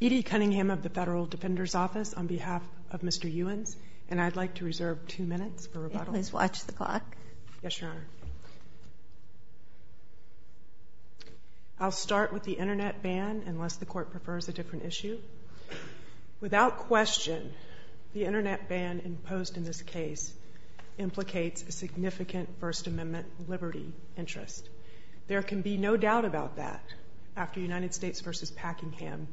Edie Cunningham of the Federal Defender's Office, on behalf of Mr. Ewens, and I'd like to reserve two minutes for rebuttal. Please watch the clock. Yes, Your Honor. I'll start with the Internet ban, unless the Court prefers a different issue. Without question, the Internet ban imposed in this case implicates a significant First Amendment liberty interest. There can be no doubt about that after United States v. Packingham,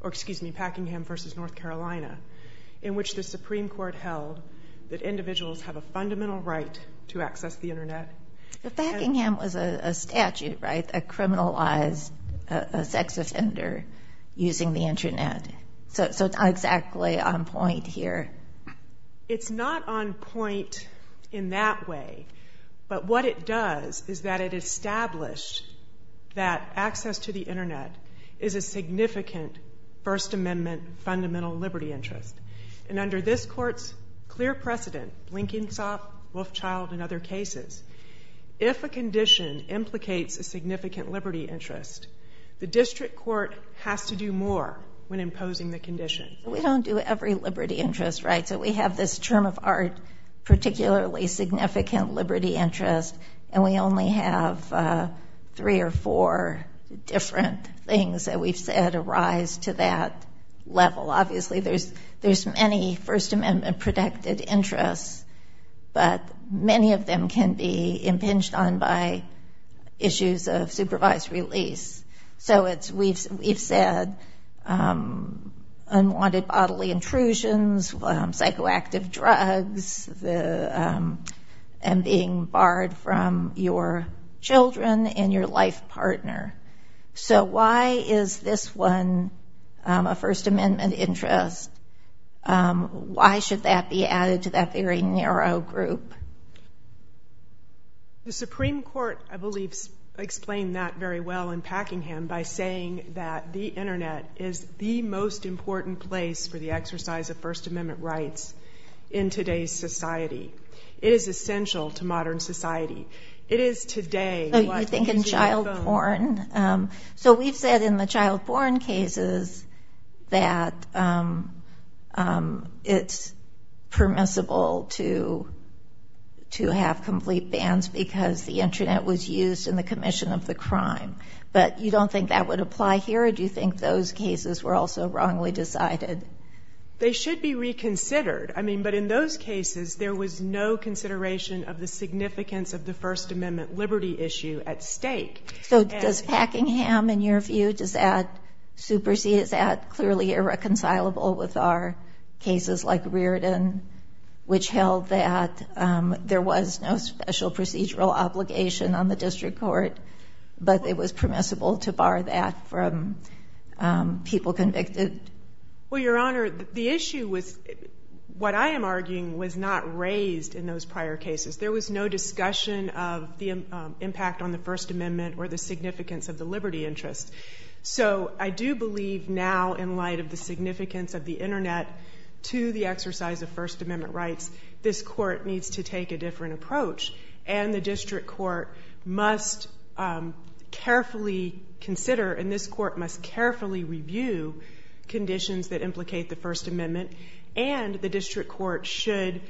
or excuse me, Packingham v. North Carolina, in which the Supreme Court held that individuals have a fundamental right to access the Internet. But Packingham was a statute, right, that criminalized a sex offender using the Internet. So it's not exactly on point here. It's not on point in that way. But what it does is that it established that access to the Internet is a significant First Amendment fundamental liberty interest. And under this Court's clear precedent, Blankensop, Wolfchild, and other cases, if a condition implicates a significant liberty interest, the district court has to do more when imposing the condition. We don't do every liberty interest, right? So we have this term of art, particularly significant liberty interest, and we only have three or four different things that we've said arise to that level. Obviously, there's many First Amendment protected interests, but many of them can be impinged on by issues of supervised release. So we've said unwanted bodily intrusions, psychoactive drugs, and being barred from your children and your life partner. So why is this one a First Amendment interest? Why should that be added to that very narrow group? The Supreme Court, I believe, explained that very well in Packingham by saying that the Internet is the most important place for the exercise of First Amendment rights in today's society. It is essential to modern society. It is today. So you think in child porn? So we've said in the child porn cases that it's permissible to have complete bans because the Internet was used in the commission of the crime. But you don't think that would apply here, or do you think those cases were also wrongly decided? They should be reconsidered. But in those cases, there was no consideration of the significance of the First Amendment liberty issue at stake. So does Packingham, in your view, does that supersede? Is that clearly irreconcilable with our cases like Reardon, which held that there was no special procedural obligation on the district court, but it was permissible to bar that from people convicted? Well, Your Honor, the issue was what I am arguing was not raised in those prior cases. There was no discussion of the impact on the First Amendment or the significance of the liberty interest. So I do believe now, in light of the significance of the Internet to the exercise of First Amendment rights, needs to take a different approach, and the district court must carefully consider and this court must carefully review conditions that implicate the First Amendment, and the district court should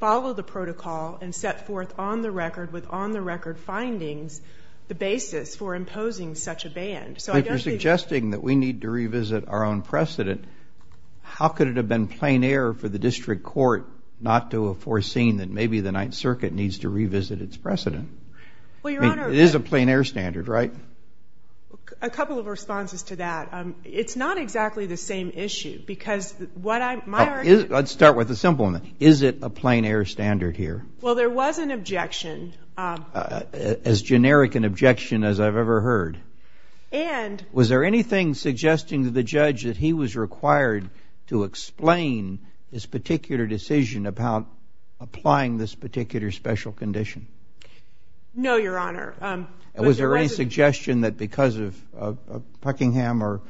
follow the protocol and set forth on the record with on-the-record findings the basis for imposing such a ban. But you're suggesting that we need to revisit our own precedent. How could it have been plain air for the district court not to have foreseen that maybe the Ninth Circuit needs to revisit its precedent? It is a plain air standard, right? A couple of responses to that. It's not exactly the same issue, because what I'm arguing is... Let's start with a simple one. Is it a plain air standard here? Well, there was an objection. As generic an objection as I've ever heard. And... Was there anything suggesting to the judge that he was required to explain this particular decision about applying this particular special condition? No, Your Honor. Was there any suggestion that because of Puckingham or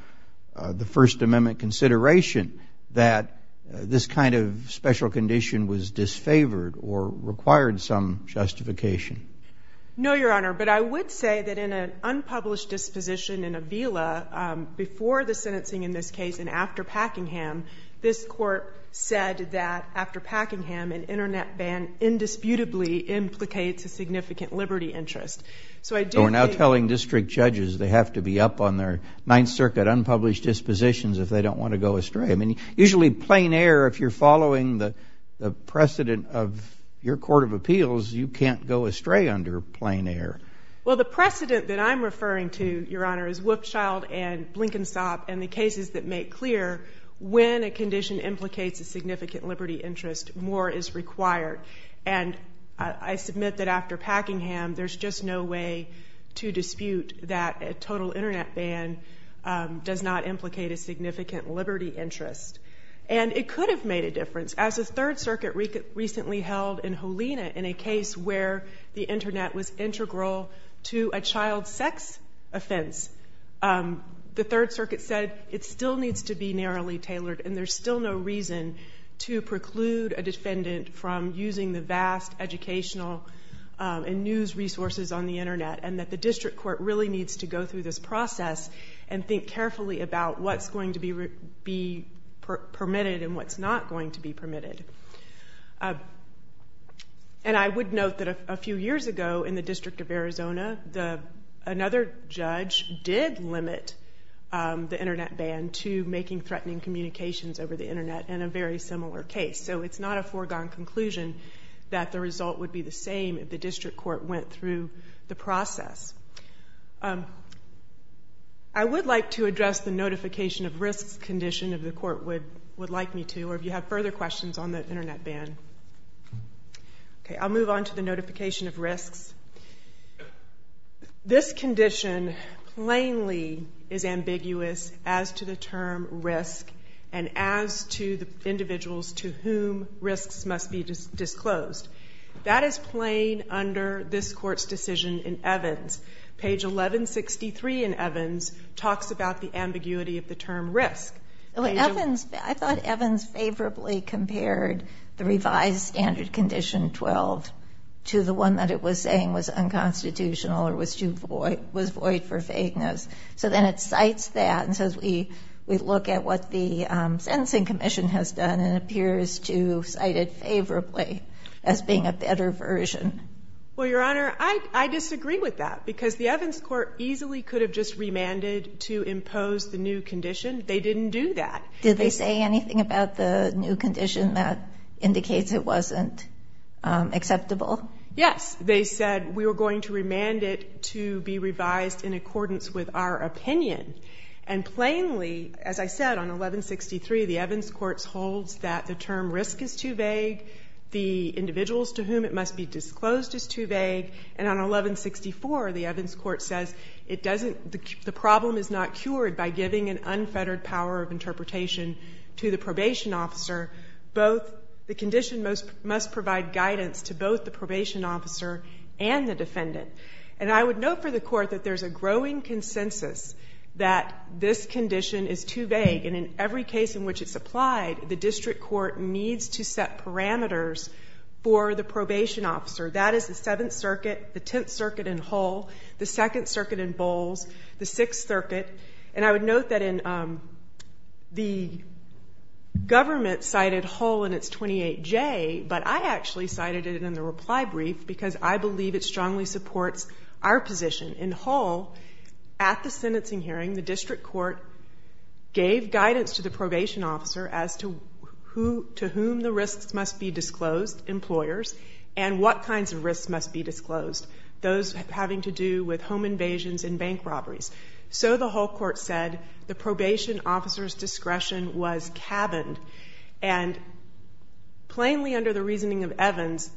the First Amendment consideration, that this kind of special condition was disfavored or required some justification? No, Your Honor. But I would say that in an unpublished disposition in Avila, before the sentencing in this case and after Puckingham, this court said that after Puckingham, an Internet ban indisputably implicates a significant liberty interest. So I do think... So we're now telling district judges they have to be up on their Ninth Circuit unpublished dispositions if they don't want to go astray. I mean, usually plain air, if you're following the precedent of your court of appeals, you can't go astray under plain air. Well, the precedent that I'm referring to, Your Honor, is Wipschild and Blinkensop and the cases that make clear when a condition implicates a significant liberty interest, more is required. And I submit that after Puckingham, there's just no way to dispute that a total Internet ban does not implicate a significant liberty interest. As the Third Circuit recently held in Holina in a case where the Internet was integral to a child sex offense, the Third Circuit said it still needs to be narrowly tailored and there's still no reason to preclude a defendant from using the vast educational and news resources on the Internet and that the district court really needs to go through this process and think carefully about what's going to be permitted and what's not going to be permitted. And I would note that a few years ago in the District of Arizona, another judge did limit the Internet ban to making threatening communications over the Internet in a very similar case. So it's not a foregone conclusion that the result would be the same if the district court went through the process. I would like to address the notification of risks condition if the court would like me to or if you have further questions on the Internet ban. Okay, I'll move on to the notification of risks. This condition plainly is ambiguous as to the term risk and as to the individuals to whom risks must be disclosed. That is plain under this Court's decision in Evans. Page 1163 in Evans talks about the ambiguity of the term risk. I thought Evans favorably compared the revised standard condition 12 to the one that it was saying was unconstitutional or was void for vagueness. So then it cites that and says we look at what the Sentencing Commission has done and it appears to cite it favorably as being a better version. Well, Your Honor, I disagree with that because the Evans court easily could have just remanded to impose the new condition. They didn't do that. Did they say anything about the new condition that indicates it wasn't acceptable? Yes. They said we were going to remand it to be revised in accordance with our opinion. And plainly, as I said, on 1163, the Evans court holds that the term risk is too vague, the individuals to whom it must be disclosed is too vague, and on 1164, the Evans court says the problem is not cured by giving an unfettered power of interpretation to the probation officer. The condition must provide guidance to both the probation officer and the defendant. And I would note for the Court that there's a growing consensus that this condition is too vague, and in every case in which it's applied, the district court needs to set parameters for the probation officer. That is the Seventh Circuit, the Tenth Circuit in Hull, the Second Circuit in Bowles, the Sixth Circuit. And I would note that the government cited Hull in its 28J, but I actually cited it in the reply brief because I believe it strongly supports our position. In Hull, at the sentencing hearing, the district court gave guidance to the probation officer as to who to whom the risks must be disclosed, employers, and what kinds of risks must be disclosed, those having to do with home invasions and bank robberies. So the Hull court said the probation officer's discretion was cabined, and plainly under the reasoning of Evans,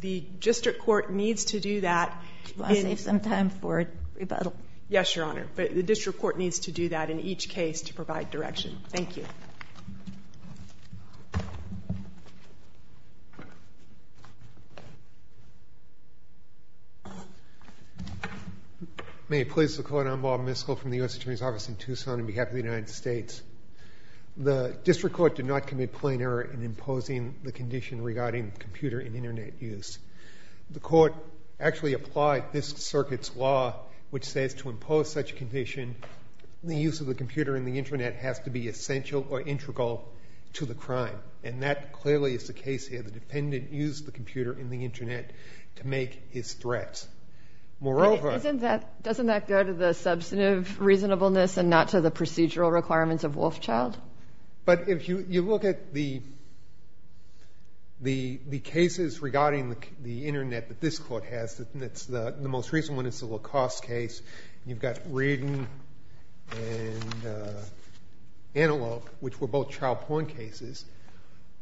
the district court needs to do that. Do I save some time for rebuttal? Yes, Your Honor. But the district court needs to do that in each case to provide direction. Thank you. May it please the Court? I'm Bob Miskell from the U.S. Attorney's Office in Tucson on behalf of the United States. The district court did not commit plain error in imposing the condition regarding computer and Internet use. The court actually applied this circuit's law, which says to impose such a condition, the use of the computer and the Internet has to be essential or integral to the crime. And that clearly is the case here. The defendant used the computer and the Internet to make his threat. Moreover — Doesn't that go to the substantive reasonableness and not to the procedural requirements of Wolfchild? But if you look at the cases regarding the Internet that this court has, the most recent one is the Lacoste case. You've got Reardon and Antelope, which were both child porn cases.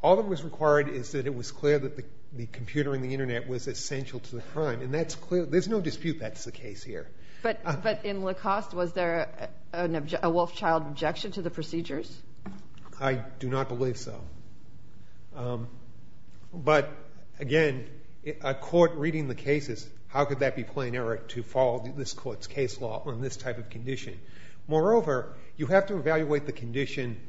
All that was required is that it was clear that the computer and the Internet was essential to the crime. And that's clear. There's no dispute that's the case here. But in Lacoste, was there a Wolfchild objection to the procedures? I do not believe so. But, again, a court reading the cases, how could that be plain error to follow this court's case law on this type of condition? Moreover, you have to evaluate the condition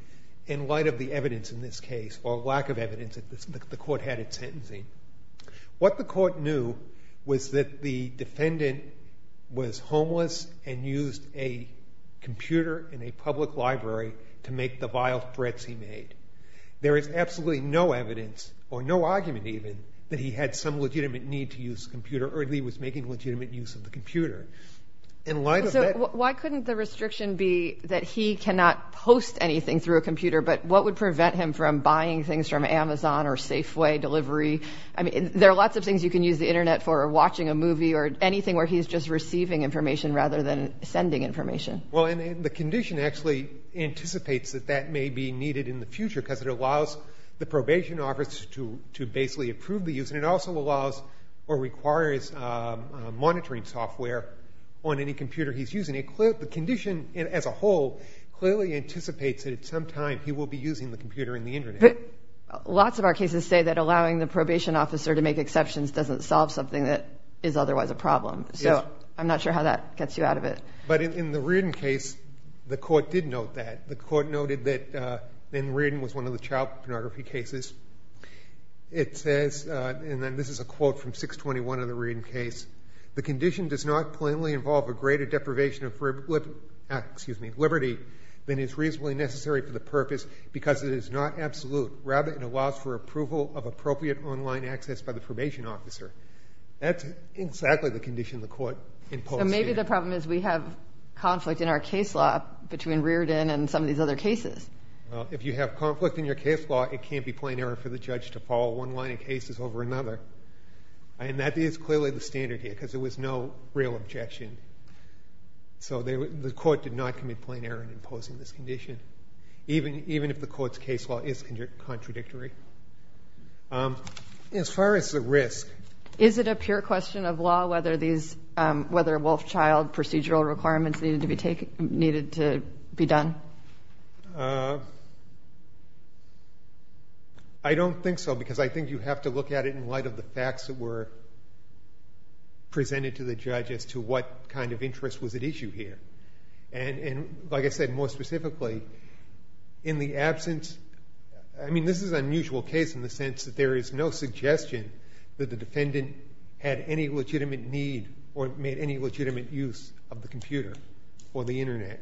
in light of the evidence in this case or lack of evidence that the court had at sentencing. What the court knew was that the defendant was homeless and used a computer in a public library to make the vile threats he made. There is absolutely no evidence, or no argument even, that he had some legitimate need to use a computer or that he was making legitimate use of the computer. So why couldn't the restriction be that he cannot post anything through a computer, but what would prevent him from buying things from Amazon or Safeway delivery? I mean, there are lots of things you can use the Internet for, watching a movie or anything where he's just receiving information rather than sending information. Well, and the condition actually anticipates that that may be needed in the future because it allows the probation officer to basically approve the use, and it also allows or requires monitoring software on any computer he's using. The condition as a whole clearly anticipates that at some time he will be using the computer and the Internet. But lots of our cases say that allowing the probation officer to make exceptions doesn't solve something that is otherwise a problem. Yes. So I'm not sure how that gets you out of it. But in the Reardon case, the court did note that. The court noted that, and Reardon was one of the child pornography cases, it says, and this is a quote from 621 of the Reardon case, the condition does not plainly involve a greater deprivation of liberty than is reasonably necessary for the purpose because it is not absolute, rather it allows for approval of appropriate online access by the probation officer. That's exactly the condition the court imposed. So maybe the problem is we have conflict in our case law between Reardon and some of these other cases. Well, if you have conflict in your case law, it can't be plain error for the judge to follow one line of cases over another. And that is clearly the standard here because there was no real objection. So the court did not commit plain error in imposing this condition, even if the court's case law is contradictory. As far as the risk. Is it a pure question of law whether these, whether a wolf child procedural requirements needed to be done? I don't think so because I think you have to look at it in light of the facts that were presented to the judge as to what kind of interest was at issue here. And like I said, more specifically, in the absence, I mean this is an unusual case in the sense that there is no suggestion that the defendant had any legitimate need or made any legitimate use of the computer or the Internet.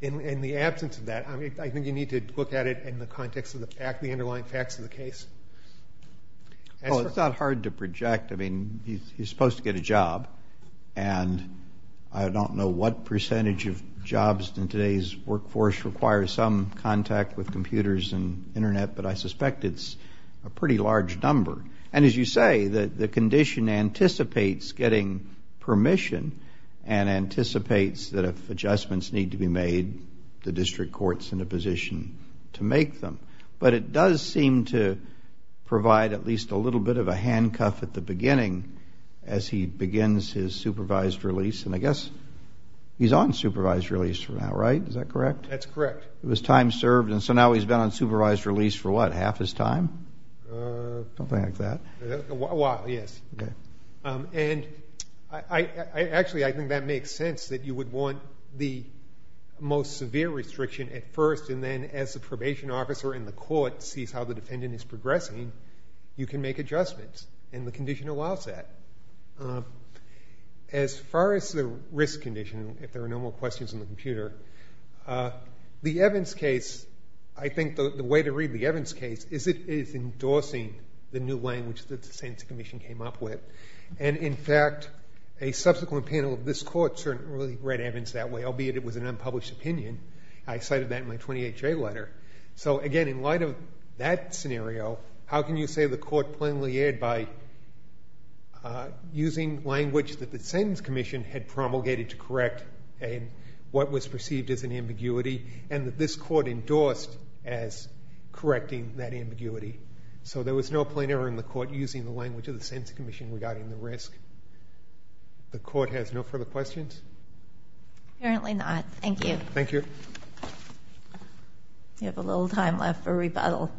In the absence of that, I think you need to look at it in the context of the underlying facts of the case. Well, it's not hard to project. I mean he's supposed to get a job and I don't know what percentage of jobs in today's workforce require some contact with computers and Internet, but I suspect it's a pretty large number. And as you say, the condition anticipates getting permission and anticipates that if adjustments need to be made, the district court's in a position to make them. But it does seem to provide at least a little bit of a handcuff at the beginning as he begins his supervised release, and I guess he's on supervised release for now, right? Is that correct? That's correct. It was time served, and so now he's been on supervised release for what, half his time? Something like that. Well, yes. And actually I think that makes sense, that you would want the most severe restriction at first and then as the probation officer in the court sees how the defendant is progressing, you can make adjustments, and the condition allows that. As far as the risk condition, if there are no more questions on the computer, the Evans case, I think the way to read the Evans case is it is endorsing the new language that the Sentencing Commission came up with, and in fact a subsequent panel of this court certainly read Evans that way, albeit it was an unpublished opinion. I cited that in my 28-J letter. So again, in light of that scenario, how can you say the court plainly erred by using language that the Sentencing Commission had promulgated to correct what was perceived as an ambiguity and that this court endorsed as correcting that ambiguity? So there was no plain error in the court using the language of the Sentencing Commission regarding the risk. The court has no further questions? Apparently not. Thank you. Thank you. We have a little time left for rebuttal.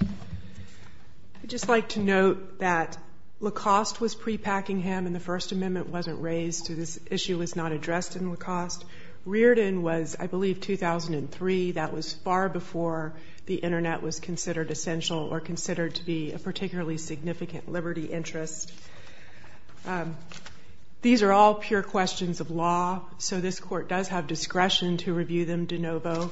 I'd just like to note that LaCoste was pre-Packingham and the First Amendment wasn't raised, so this issue was not addressed in LaCoste. Reardon was, I believe, 2003. That was far before the Internet was considered essential or considered to be a particularly significant liberty interest. These are all pure questions of law, so this court does have discretion to review them de novo.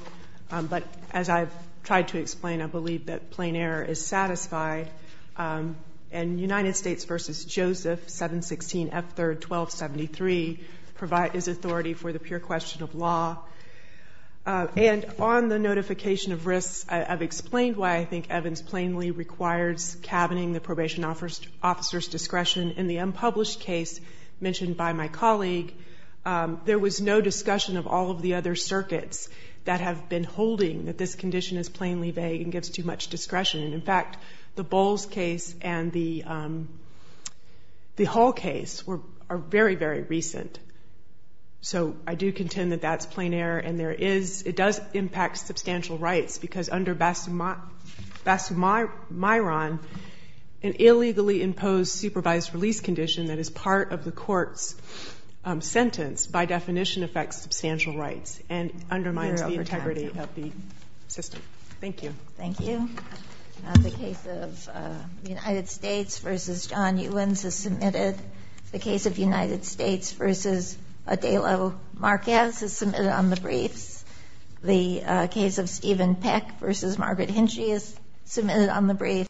But as I've tried to explain, I believe that plain error is satisfied. And United States v. Joseph 716F3-1273 is authority for the pure question of law. And on the notification of risks, I've explained why I think Evans plainly requires cabining the probation officer's discretion in the unpublished case mentioned by my colleague. There was no discussion of all of the other circuits that have been holding that this condition is plainly vague and gives too much discretion. And, in fact, the Bowles case and the Hall case are very, very recent. So I do contend that that's plain error, and it does impact substantial rights because under Baston-Myron, an illegally imposed supervised release condition that is part of the court's sentence by definition affects substantial rights and undermines the integrity of the system. Thank you. Thank you. The case of United States v. John Ewens is submitted. The case of United States v. Adelo Marquez is submitted on the briefs. The case of Stephen Peck v. Margaret Hinchey is submitted on the briefs.